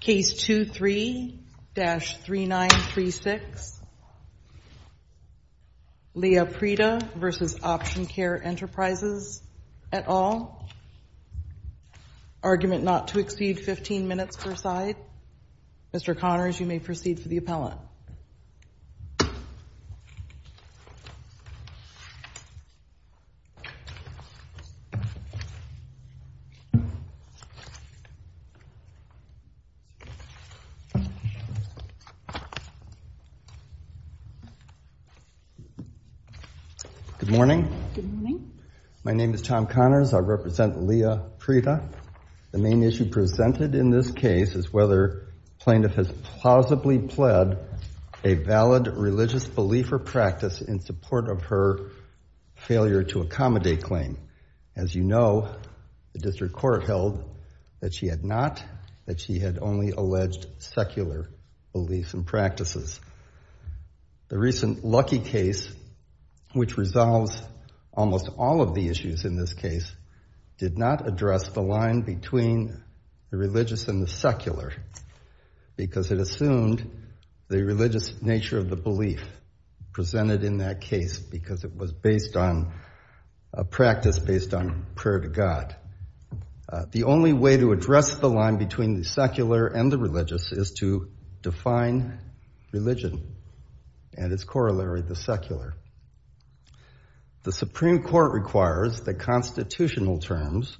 Case 23-3936 Leah Prida v. Option Care Enterprises, et al. Argument not to exceed 15 minutes per side. Mr. Connors, you may proceed for the appellant. Good morning. My name is Tom Connors. I represent Leah Prida. The main issue presented in this case is whether plaintiff has plausibly pled a valid religious belief or practice in support of her failure to accommodate claim. As you know, the district court held that she had not, that she had only alleged secular beliefs and practices. The recent Lucky case, which resolves almost all of the issues in this case, did not address the line between the religious and the secular because it assumed the religious nature of the belief presented in that case because it was based on a practice based on prayer to God. The only way to address the line between the secular and the religious is to define religion and its corollary, the secular. The Supreme Court requires that constitutional terms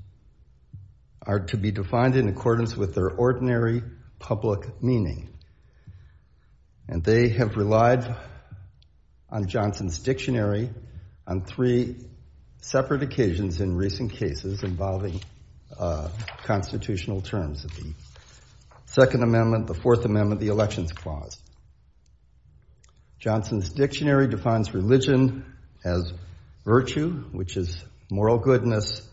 are to be defined in accordance with their ordinary public meaning. And they have relied on Johnson's Dictionary on three separate occasions in recent cases involving constitutional terms of the Second Amendment, the Fourth Amendment, the Elections Clause. Johnson's Dictionary defines religion as virtue, which is moral goodness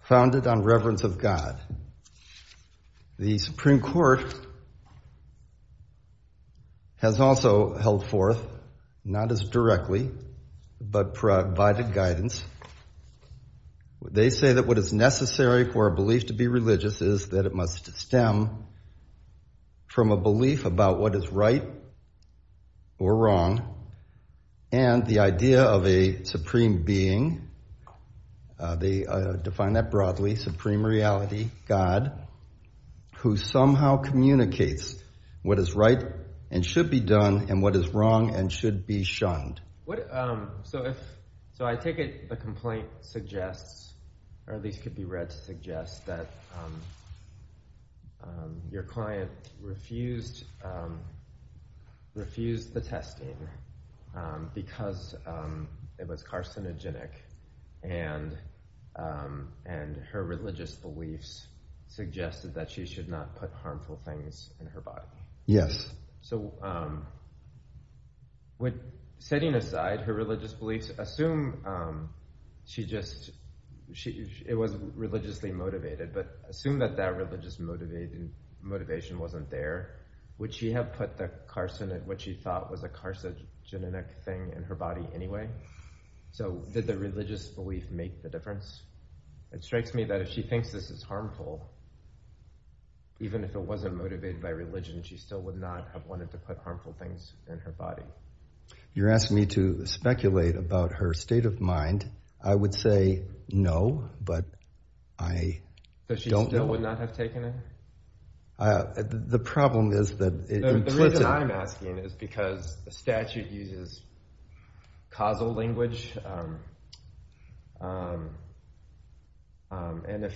founded on reverence of God. The Supreme Court has also held forth, not as directly, but provided guidance. They say that what is necessary for a belief to be religious is that it must stem from a belief about what is right or wrong. And the idea of a supreme being, they define that broadly, supreme reality, God, who somehow communicates what is right and should be done and what is wrong and should be shunned. So I take it the complaint suggests, or at least could be read to suggest, that your client refused the testing because it was carcinogenic and her religious beliefs suggested that she should not put harmful things in her body. So setting aside her religious beliefs, assume it was religiously motivated, but assume that that religious motivation wasn't there, would she have put the carcinogenic thing in her body anyway? So did the religious belief make the difference? It strikes me that if she thinks this is harmful, even if it wasn't motivated by religion, she still would not have wanted to put harmful things in her body. You're asking me to speculate about her state of mind. I would say no, but I don't know. So she still would not have taken it? The reason I'm asking is because the statute uses causal language. And if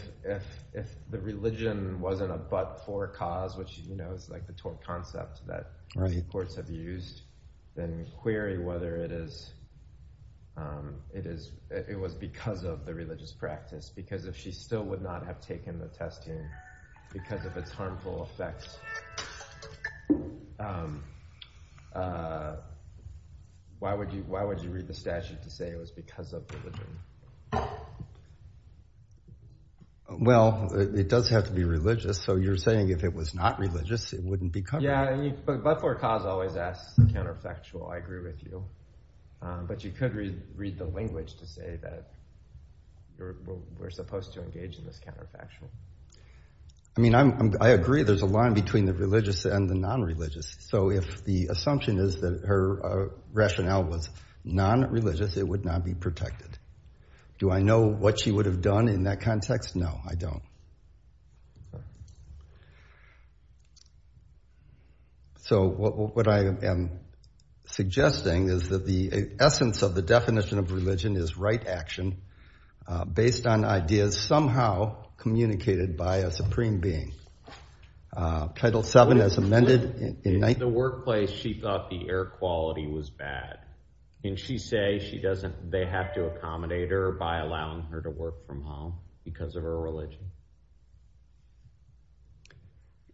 the religion wasn't a but-for cause, which is the concept that many courts have used, then query whether it was because of the religious practice. Because if she still would not have taken the testing because of its harmful effects, why would you read the statute to say it was because of religion? Well, it does have to be religious. So you're saying if it was not religious, it wouldn't be covered. Yeah, but but-for-cause always asks the counterfactual. I agree with you. But you could read the language to say that we're supposed to engage in this counterfactual. I mean, I agree there's a line between the religious and the non-religious. So if the assumption is that her rationale was non-religious, it would not be protected. Do I know what she would have done in that context? No, I don't. So what I am suggesting is that the essence of the definition of religion is right action based on ideas somehow communicated by a supreme being. Title VII as amended. In the workplace, she thought the air quality was bad. Can she say they have to accommodate her by allowing her to work from home because of her religion?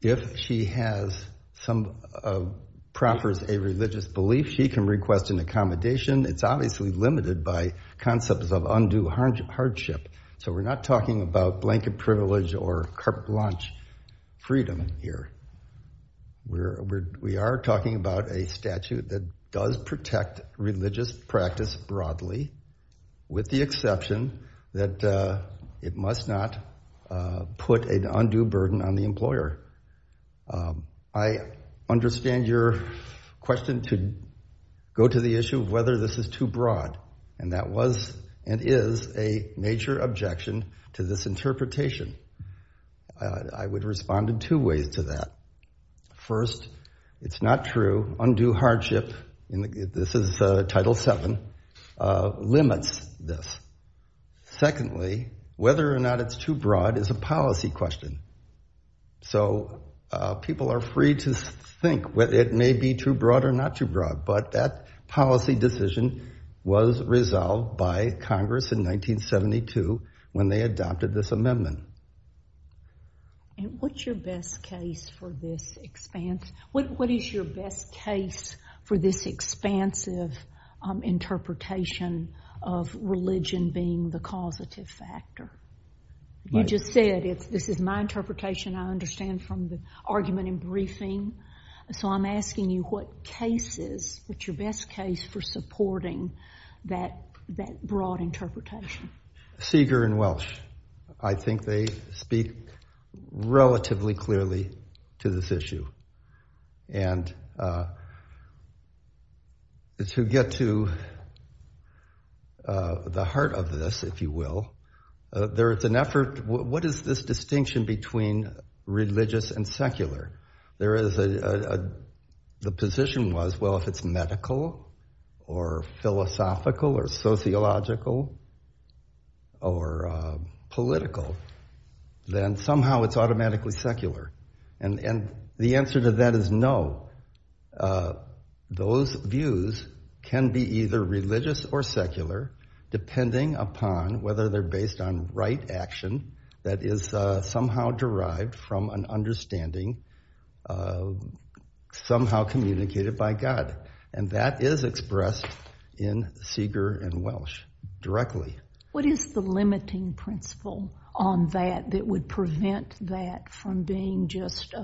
If she has some-proffers a religious belief, she can request an accommodation. It's obviously limited by concepts of undue hardship. So we're not talking about blanket privilege or carte blanche freedom here. We are talking about a statute that does protect religious practice broadly with the exception that it must not put an undue burden on the employer. I understand your question to go to the issue of whether this is too broad. And that was and is a major objection to this interpretation. I would respond in two ways to that. First, it's not true. Undue hardship, this is Title VII, limits this. Secondly, whether or not it's too broad is a policy question. So people are free to think whether it may be too broad or not too broad. But that policy decision was resolved by Congress in 1972 when they adopted this amendment. And what's your best case for this expanse? What is your best case for this expansive interpretation of religion being the causative factor? You just said this is my interpretation. I understand from the argument in briefing. So I'm asking you what case is – what's your best case for supporting that broad interpretation? Seeger and Welsh. I think they speak relatively clearly to this issue. And to get to the heart of this, if you will, there is an effort – what is this distinction between religious and secular? There is a – the position was, well, if it's medical or philosophical or sociological or political, then somehow it's automatically secular. And the answer to that is no. Those views can be either religious or secular depending upon whether they're based on right action that is somehow derived from an understanding somehow communicated by God. And that is expressed in Seeger and Welsh directly. What is the limiting principle on that that would prevent that from being just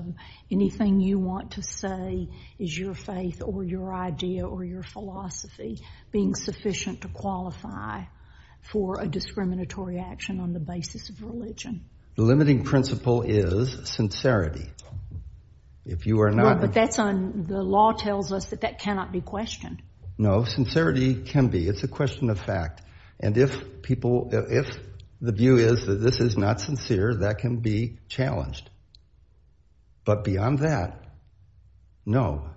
anything you want to say is your faith or your idea or your philosophy being sufficient to qualify for a discriminatory action on the basis of religion? The limiting principle is sincerity. If you are not – Well, but that's on – the law tells us that that cannot be questioned. No, sincerity can be. It's a question of fact. And if people – if the view is that this is not sincere, that can be challenged. But beyond that, no.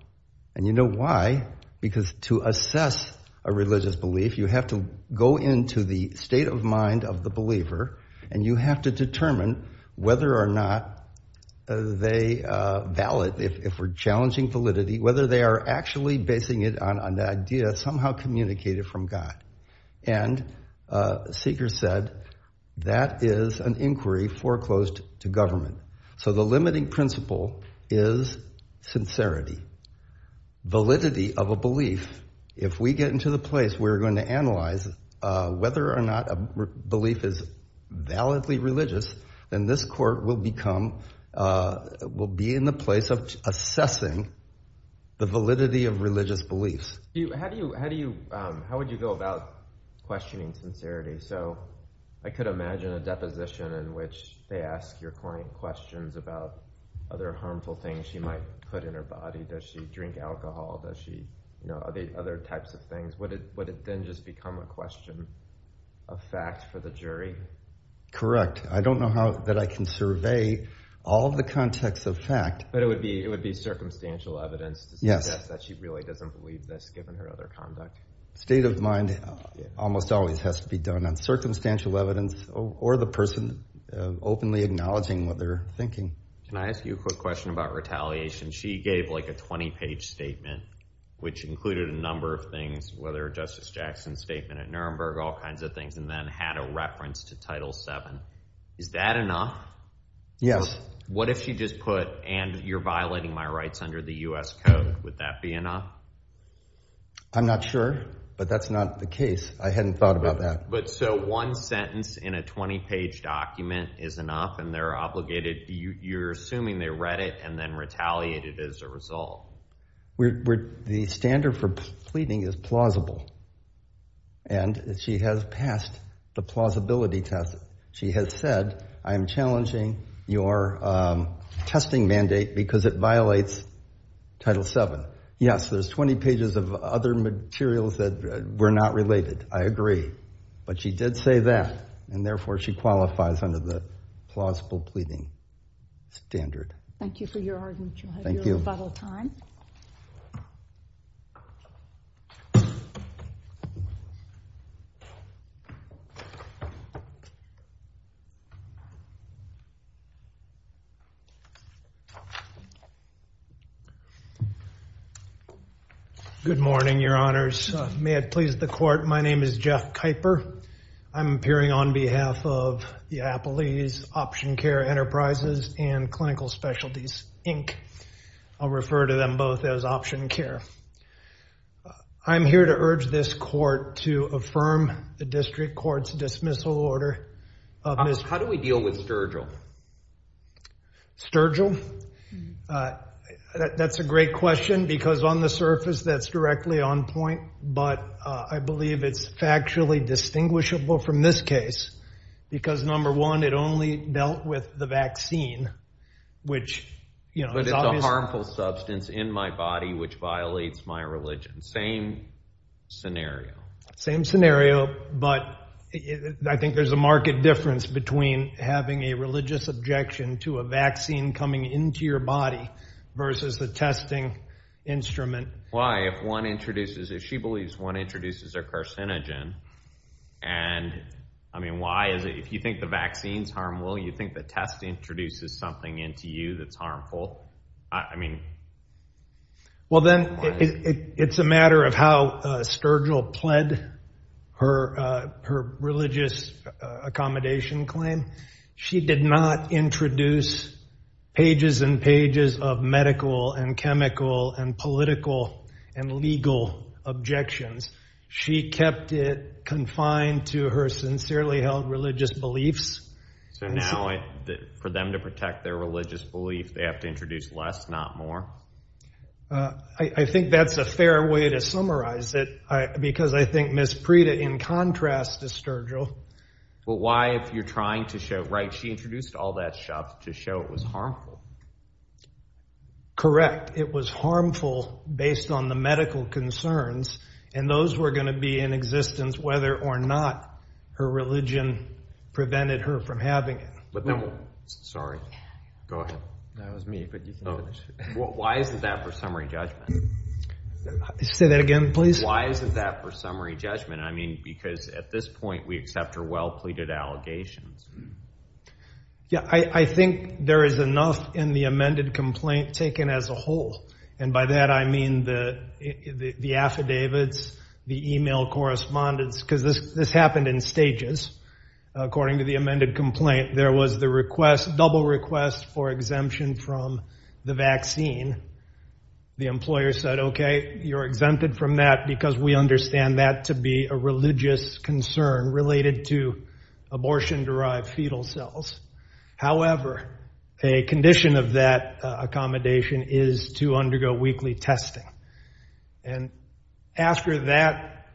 And you know why? Because to assess a religious belief, you have to go into the state of mind of the believer and you have to determine whether or not they – valid if we're challenging validity, whether they are actually basing it on an idea somehow communicated from God. And Seeger said that is an inquiry foreclosed to government. So the limiting principle is sincerity. Validity of a belief, if we get into the place where we're going to analyze whether or not a belief is validly religious, then this court will become – will be in the place of assessing the validity of religious beliefs. How do you – how would you go about questioning sincerity? So I could imagine a deposition in which they ask your client questions about other harmful things she might put in her body. Does she drink alcohol? Does she – are there other types of things? Would it then just become a question of fact for the jury? Correct. I don't know how – that I can survey all of the context of fact. But it would be – it would be circumstantial evidence to suggest that she really doesn't believe this given her other conduct. State of mind almost always has to be done on circumstantial evidence or the person openly acknowledging what they're thinking. Can I ask you a quick question about retaliation? She gave like a 20-page statement which included a number of things, whether Justice Jackson's statement at Nuremberg, all kinds of things, and then had a reference to Title VII. Is that enough? Yes. What if she just put, and you're violating my rights under the U.S. Code, would that be enough? I'm not sure, but that's not the case. I hadn't thought about that. But so one sentence in a 20-page document is enough and they're obligated – you're assuming they read it and then retaliated as a result. The standard for pleading is plausible, and she has passed the plausibility test. She has said, I am challenging your testing mandate because it violates Title VII. Yes, there's 20 pages of other materials that were not related. I agree. But she did say that, and therefore she qualifies under the plausible pleading standard. Thank you for your argument. You'll have your rebuttal time. Good morning, Your Honors. May it please the Court, my name is Jeff Kuyper. I'm appearing on behalf of the Appalachian Option Care Enterprises and Clinical Specialties, Inc. I'll refer to them both as Option Care. I'm here to urge this Court to affirm the District Court's dismissal order. How do we deal with Sturgill? Sturgill? That's a great question, because on the surface that's directly on point. But I believe it's factually distinguishable from this case, because number one, it only dealt with the vaccine. But it's a harmful substance in my body which violates my religion. Same scenario. Same scenario, but I think there's a marked difference between having a religious objection to a vaccine coming into your body versus a testing instrument. Why? If one introduces, if she believes one introduces a carcinogen, and, I mean, why is it if you think the vaccine's harmful, you think the test introduces something into you that's harmful? I mean... Well then, it's a matter of how Sturgill pled her religious accommodation claim. She did not introduce pages and pages of medical and chemical and political and legal objections. She kept it confined to her sincerely held religious beliefs. So now, for them to protect their religious belief, they have to introduce less, not more? I think that's a fair way to summarize it, because I think Ms. Prita, in contrast to Sturgill... But why, if you're trying to show, right, she introduced all that stuff to show it was harmful? Correct. It was harmful based on the medical concerns. And those were going to be in existence whether or not her religion prevented her from having it. Sorry. Go ahead. That was me. Why isn't that for summary judgment? Say that again, please. Why isn't that for summary judgment? I mean, because at this point, we accept her well-pleaded allegations. Yeah, I think there is enough in the amended complaint taken as a whole. And by that, I mean the affidavits, the email correspondence, because this happened in stages. According to the amended complaint, there was the request, double request for exemption from the vaccine. The employer said, okay, you're exempted from that because we understand that to be a religious concern related to abortion-derived fetal cells. However, a condition of that accommodation is to undergo weekly testing. And after that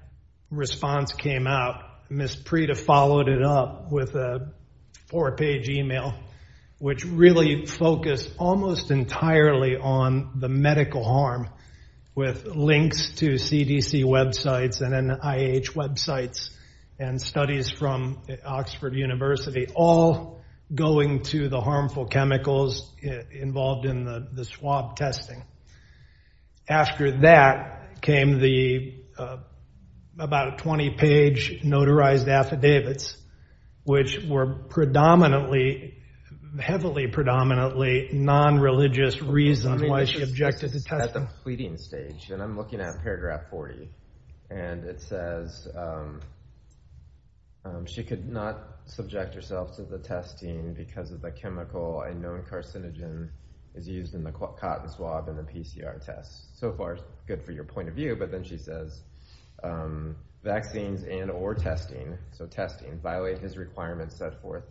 response came out, Ms. Prita followed it up with a four-page email, which really focused almost entirely on the medical harm with links to CDC websites and NIH websites and studies from Oxford University, all going to the harmful chemicals involved in the swab testing. After that came the about a 20-page notarized affidavits, which were predominantly, heavily predominantly, non-religious reasons why she objected to testing. At the pleading stage, and I'm looking at paragraph 40, and it says she could not subject herself to the testing because of the chemical a known carcinogen is used in the cotton swab in the PCR test. So far, good for your point of view. But then she says, vaccines and or testing, so testing, violate his requirements set forth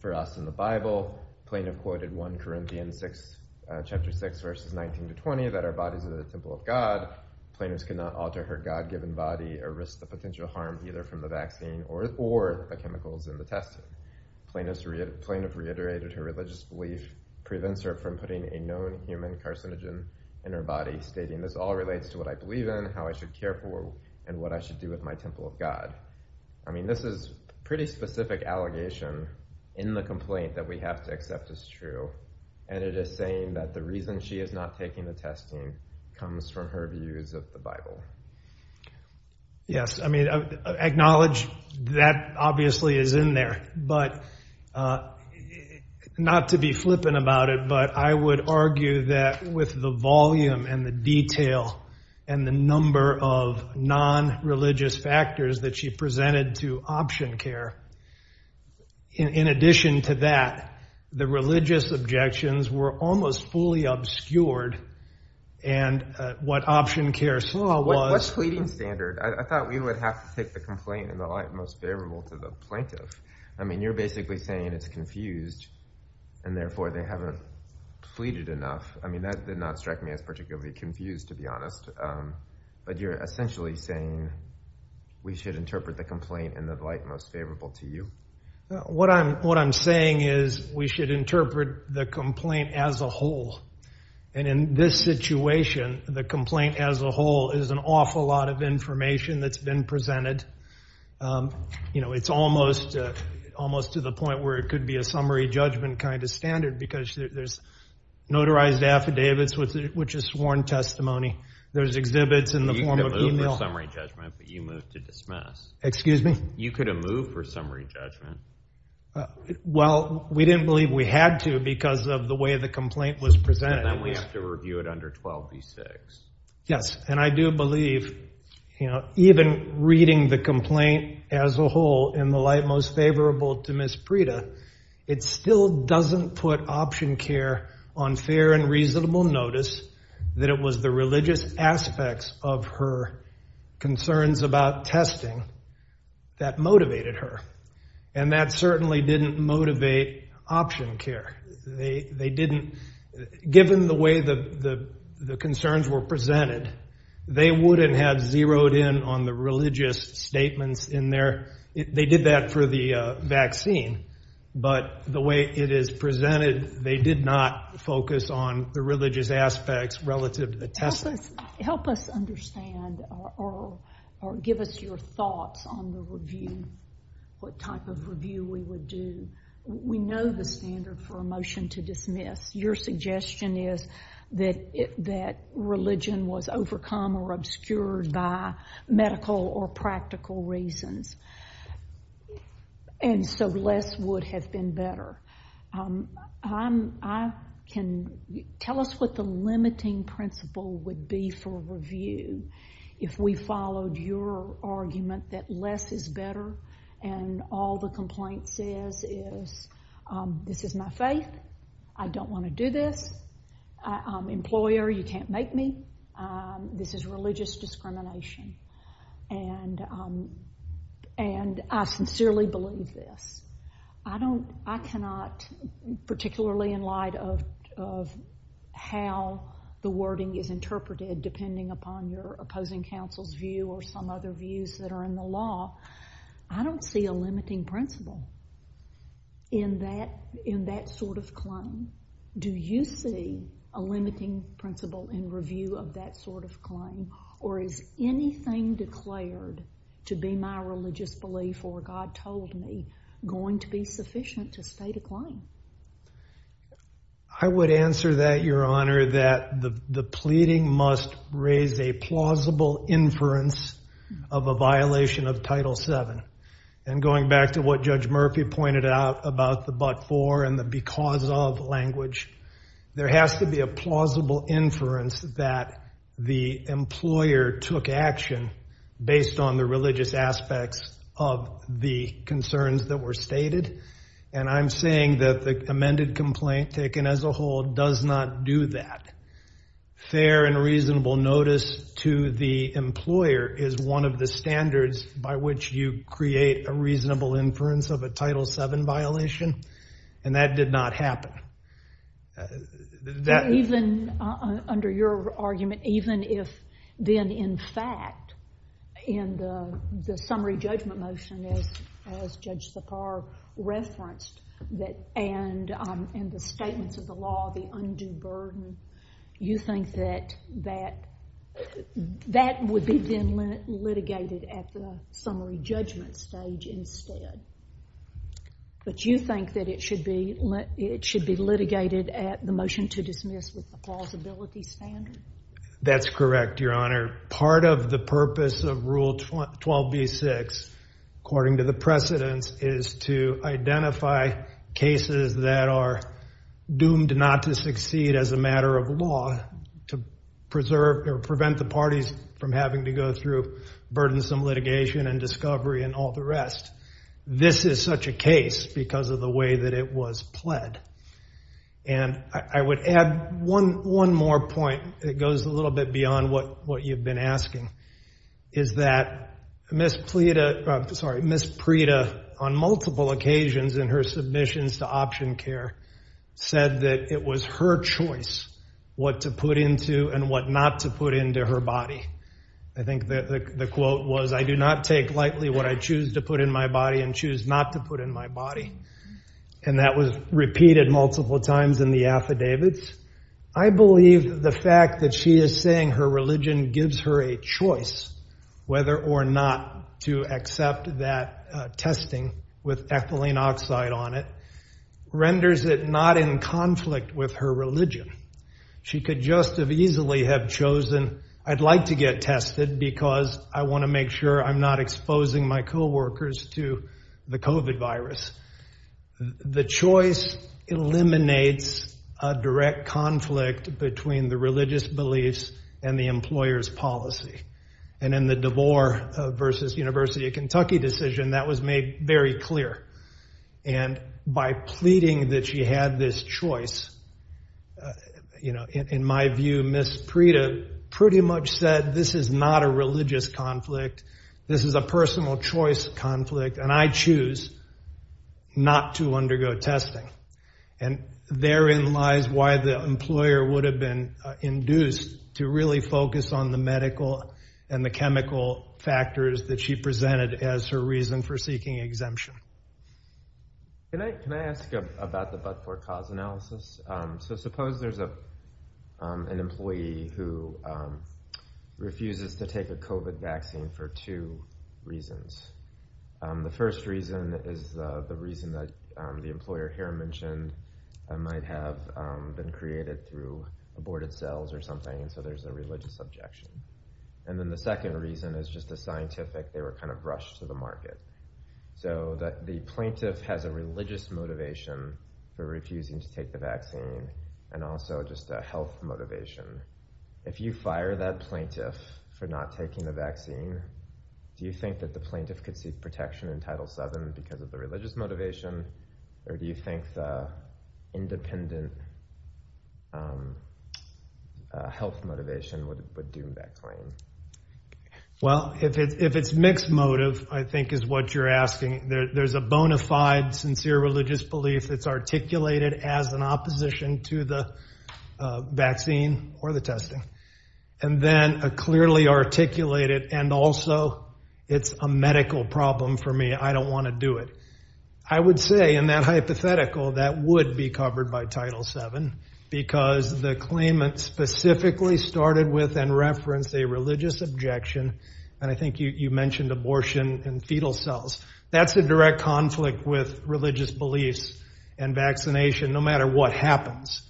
for us in the Bible. Plaintiff quoted 1 Corinthians 6, chapter 6, verses 19 to 20, that our bodies are the temple of God. Plaintiff could not alter her God-given body or risk the potential harm either from the vaccine or the chemicals in the testing. Plaintiff reiterated her religious belief prevents her from putting a known human carcinogen in her body, stating this all relates to what I believe in, how I should care for, and what I should do with my temple of God. I mean, this is pretty specific allegation in the complaint that we have to accept as true. And it is saying that the reason she is not taking the testing comes from her views of the Bible. Yes, I mean, acknowledge that obviously is in there. But not to be flippant about it, but I would argue that with the volume and the detail and the number of non-religious factors that she presented to option care, in addition to that, the religious objections were almost fully obscured and what option care saw was. What pleading standard? I thought we would have to take the complaint in the light most favorable to the plaintiff. I mean, you're basically saying it's confused and therefore they haven't pleaded enough. I mean, that did not strike me as particularly confused, to be honest. But you're essentially saying we should interpret the complaint in the light most favorable to you. What I'm saying is we should interpret the complaint as a whole. And in this situation, the complaint as a whole is an awful lot of information that's been presented. It's almost to the point where it could be a summary judgment kind of standard because there's notarized affidavits, which is sworn testimony. There's exhibits in the form of email. You could have moved for summary judgment, but you moved to dismiss. Excuse me? You could have moved for summary judgment. Well, we didn't believe we had to because of the way the complaint was presented. And then we have to review it under 12b-6. Yes, and I do believe even reading the complaint as a whole in the light most favorable to Ms. Prita, it still doesn't put option care on fair and reasonable notice that it was the religious aspects of her concerns about testing that motivated her. And that certainly didn't motivate option care. They didn't. Given the way the concerns were presented, they wouldn't have zeroed in on the religious statements in there. They did that for the vaccine, but the way it is presented, they did not focus on the religious aspects relative to the testing. Help us understand or give us your thoughts on the review, what type of review we would do. We know the standard for a motion to dismiss. Your suggestion is that religion was overcome or obscured by medical or practical reasons, and so less would have been better. Tell us what the limiting principle would be for review if we followed your argument that less is better and all the complaint says is this is my faith. I don't want to do this. I'm an employer. You can't make me. This is religious discrimination, and I sincerely believe this. I cannot, particularly in light of how the wording is interpreted, depending upon your opposing counsel's view or some other views that are in the law, I don't see a limiting principle in that sort of claim. Do you see a limiting principle in review of that sort of claim, or is anything declared to be my religious belief or God told me going to be sufficient to state a claim? I would answer that, Your Honor, that the pleading must raise a plausible inference of a violation of Title VII. And going back to what Judge Murphy pointed out about the but for and the because of language, there has to be a plausible inference that the employer took action based on the religious aspects of the concerns that were stated, and I'm saying that the amended complaint taken as a whole does not do that. Fair and reasonable notice to the employer is one of the standards by which you create a reasonable inference of a Title VII violation, and that did not happen. Even under your argument, even if then in fact in the summary judgment motion, as Judge Sipar referenced, and the statements of the law, the undue burden, you think that that would be then litigated at the summary judgment stage instead. But you think that it should be litigated at the motion to dismiss with the plausibility standard? That's correct, Your Honor. Part of the purpose of Rule 12b-6, according to the precedents, is to identify cases that are doomed not to succeed as a matter of law to prevent the parties from having to go through burdensome litigation and discovery and all the rest. This is such a case because of the way that it was pled. And I would add one more point that goes a little bit beyond what you've been asking, is that Ms. Prita, on multiple occasions in her submissions to option care, said that it was her choice what to put into and what not to put into her body. I think the quote was, I do not take lightly what I choose to put in my body and choose not to put in my body. And that was repeated multiple times in the affidavits. I believe the fact that she is saying her religion gives her a choice whether or not to accept that testing with ethylene oxide on it renders it not in conflict with her religion. She could just as easily have chosen, I'd like to get tested because I want to make sure I'm not exposing my coworkers to the COVID virus. The choice eliminates a direct conflict between the religious beliefs and the employer's policy. And in the DeVore v. University of Kentucky decision, that was made very clear. And by pleading that she had this choice, in my view, Ms. Prita pretty much said, this is not a religious conflict, this is a personal choice conflict, and I choose not to undergo testing. And therein lies why the employer would have been induced to really focus on the medical and the chemical factors that she presented as her reason for seeking exemption. Can I ask about the but-for-cause analysis? So suppose there's an employee who refuses to take a COVID vaccine for two reasons. The first reason is the reason that the employer here mentioned might have been created through aborted cells or something, so there's a religious objection. And then the second reason is just a scientific, they were kind of rushed to the market. So that the plaintiff has a religious motivation for refusing to take the vaccine, and also just a health motivation. If you fire that plaintiff for not taking the vaccine, do you think that the plaintiff could seek protection in Title VII because of the religious motivation? Or do you think the independent health motivation would do that claim? Well, if it's mixed motive, I think is what you're asking, there's a bona fide sincere religious belief that's articulated as an opposition to the vaccine or the testing. And then a clearly articulated, and also it's a medical problem for me, I don't want to do it. I would say in that hypothetical, that would be covered by Title VII, because the claimant specifically started with and referenced a religious objection. And I think you mentioned abortion and fetal cells. That's a direct conflict with religious beliefs and vaccination, no matter what happens.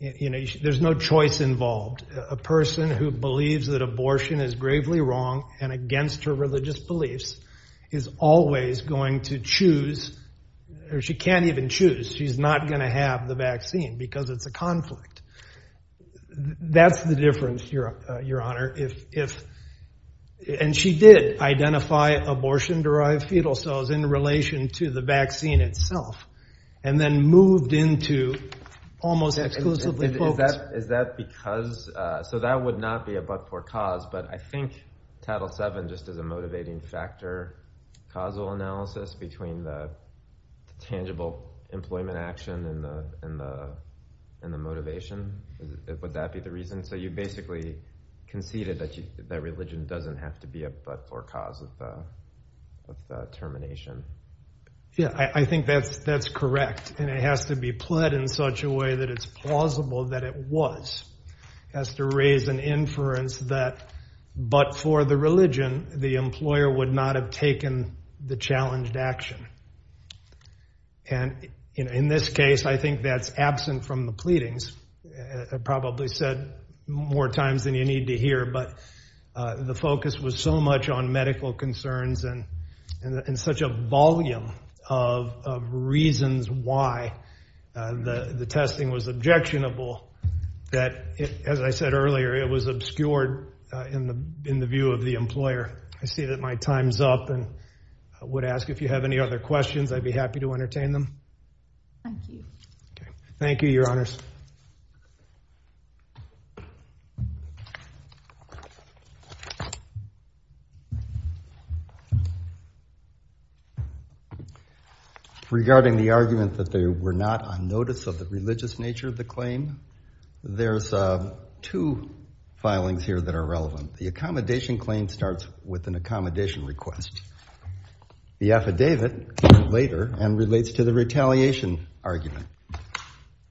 There's no choice involved. A person who believes that abortion is gravely wrong and against her religious beliefs is always going to choose, or she can't even choose. She's not going to have the vaccine because it's a conflict. That's the difference, Your Honor. And she did identify abortion-derived fetal cells in relation to the vaccine itself and then moved into almost exclusively focused. So that would not be a but-for cause, but I think Title VII, just as a motivating factor, causal analysis between the tangible employment action and the motivation, would that be the reason? So you basically conceded that religion doesn't have to be a but-for cause of termination. Yeah, I think that's correct. And it has to be pled in such a way that it's plausible that it was. It has to raise an inference that but-for the religion, the employer would not have taken the challenged action. And in this case, I think that's absent from the pleadings. I've probably said more times than you need to hear, but the focus was so much on medical concerns and such a volume of reasons why the testing was objectionable that, as I said earlier, it was obscured in the view of the employer. I see that my time's up and would ask if you have any other questions. I'd be happy to entertain them. Thank you. Thank you, Your Honors. Regarding the argument that they were not on notice of the religious nature of the claim, there's two filings here that are relevant. The accommodation claim starts with an accommodation request. The affidavit came later and relates to the retaliation argument.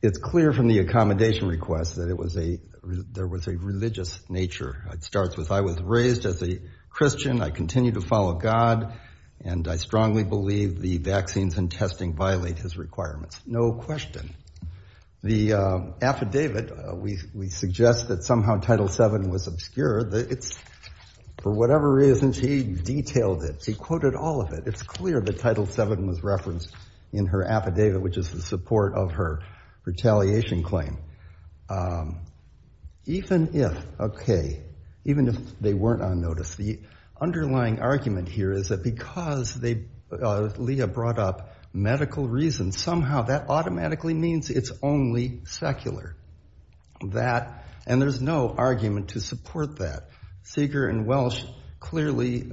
It's clear from the accommodation request that there was a religious nature. It starts with, I was raised as a Christian. I continue to follow God, and I strongly believe the vaccines and testing violate his requirements. No question. The affidavit, we suggest that somehow Title VII was obscured. For whatever reason, he detailed it. He quoted all of it. It's clear that Title VII was referenced in her affidavit, which is in support of her retaliation claim. Even if they weren't on notice, the underlying argument here is that because Leah brought up medical reasons, somehow that automatically means it's only secular. And there's no argument to support that. Seeger and Welsh clearly,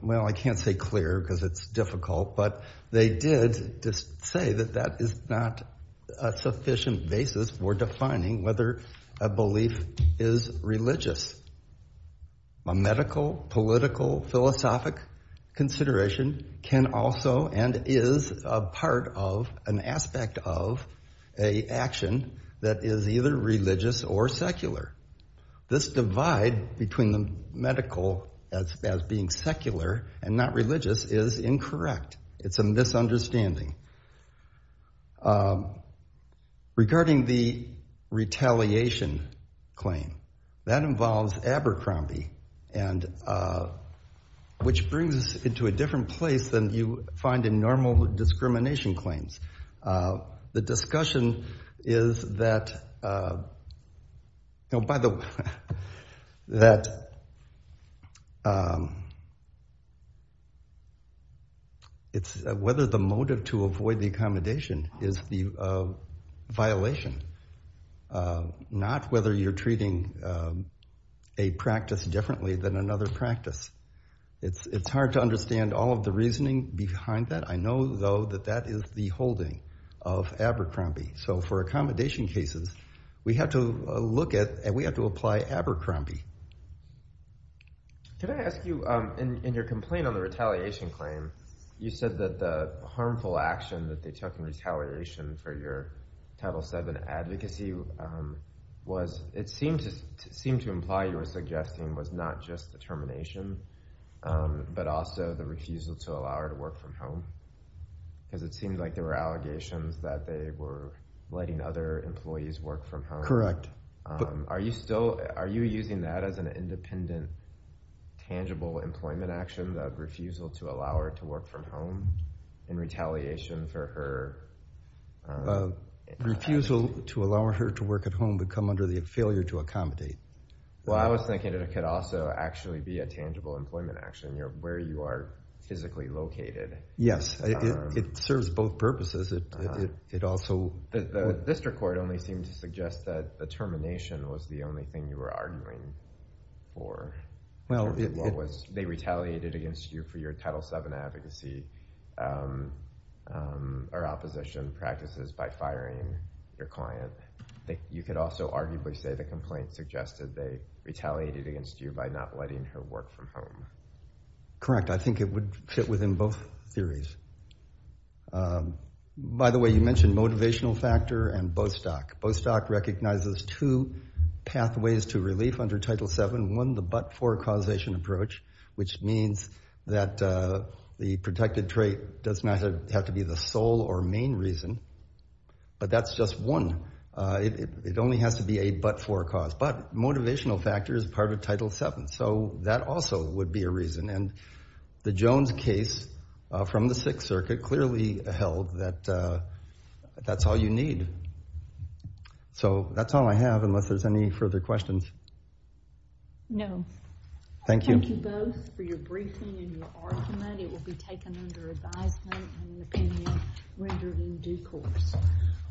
well, I can't say clear because it's difficult, but they did say that that is not a sufficient basis for defining whether a belief is religious. A medical, political, philosophic consideration can also and is a part of an aspect of a action that is either religious or secular. This divide between the medical as being secular and not religious is incorrect. It's a misunderstanding. Regarding the retaliation claim, that involves Abercrombie, which brings us into a different place than you find in normal discrimination claims. The discussion is that whether the motive to avoid the accommodation is the violation, not whether you're treating a practice differently than another practice. It's hard to understand all of the reasoning behind that. I know, though, that that is the holding of Abercrombie. So for accommodation cases, we have to look at and we have to apply Abercrombie. Can I ask you, in your complaint on the retaliation claim, you said that the harmful action that they took in retaliation for your Title VII advocacy was, it seemed to imply you were suggesting was not just the termination, but also the refusal to allow her to work from home, because it seemed like there were allegations that they were letting other employees work from home. Are you using that as an independent, tangible employment action, the refusal to allow her to work from home in retaliation for her advocacy? The refusal to allow her to work at home would come under the failure to accommodate. Well, I was thinking it could also actually be a tangible employment action, where you are physically located. Yes, it serves both purposes. The district court only seemed to suggest that the termination was the only thing you were arguing for. They retaliated against you for your Title VII advocacy or opposition practices by firing your client. You could also arguably say the complaint suggested they retaliated against you by not letting her work from home. Correct. I think it would fit within both theories. By the way, you mentioned motivational factor and Bostock. Bostock recognizes two pathways to relief under Title VII. One, the but-for causation approach, which means that the protected trait does not have to be the sole or main reason, but that's just one. It only has to be a but-for cause. But motivational factor is part of Title VII, so that also would be a reason. And the Jones case from the Sixth Circuit clearly held that that's all you need. So that's all I have, unless there's any further questions. No. Thank you. Thank you both for your briefing and your argument. It will be taken under advisement and the opinion rendered in due course.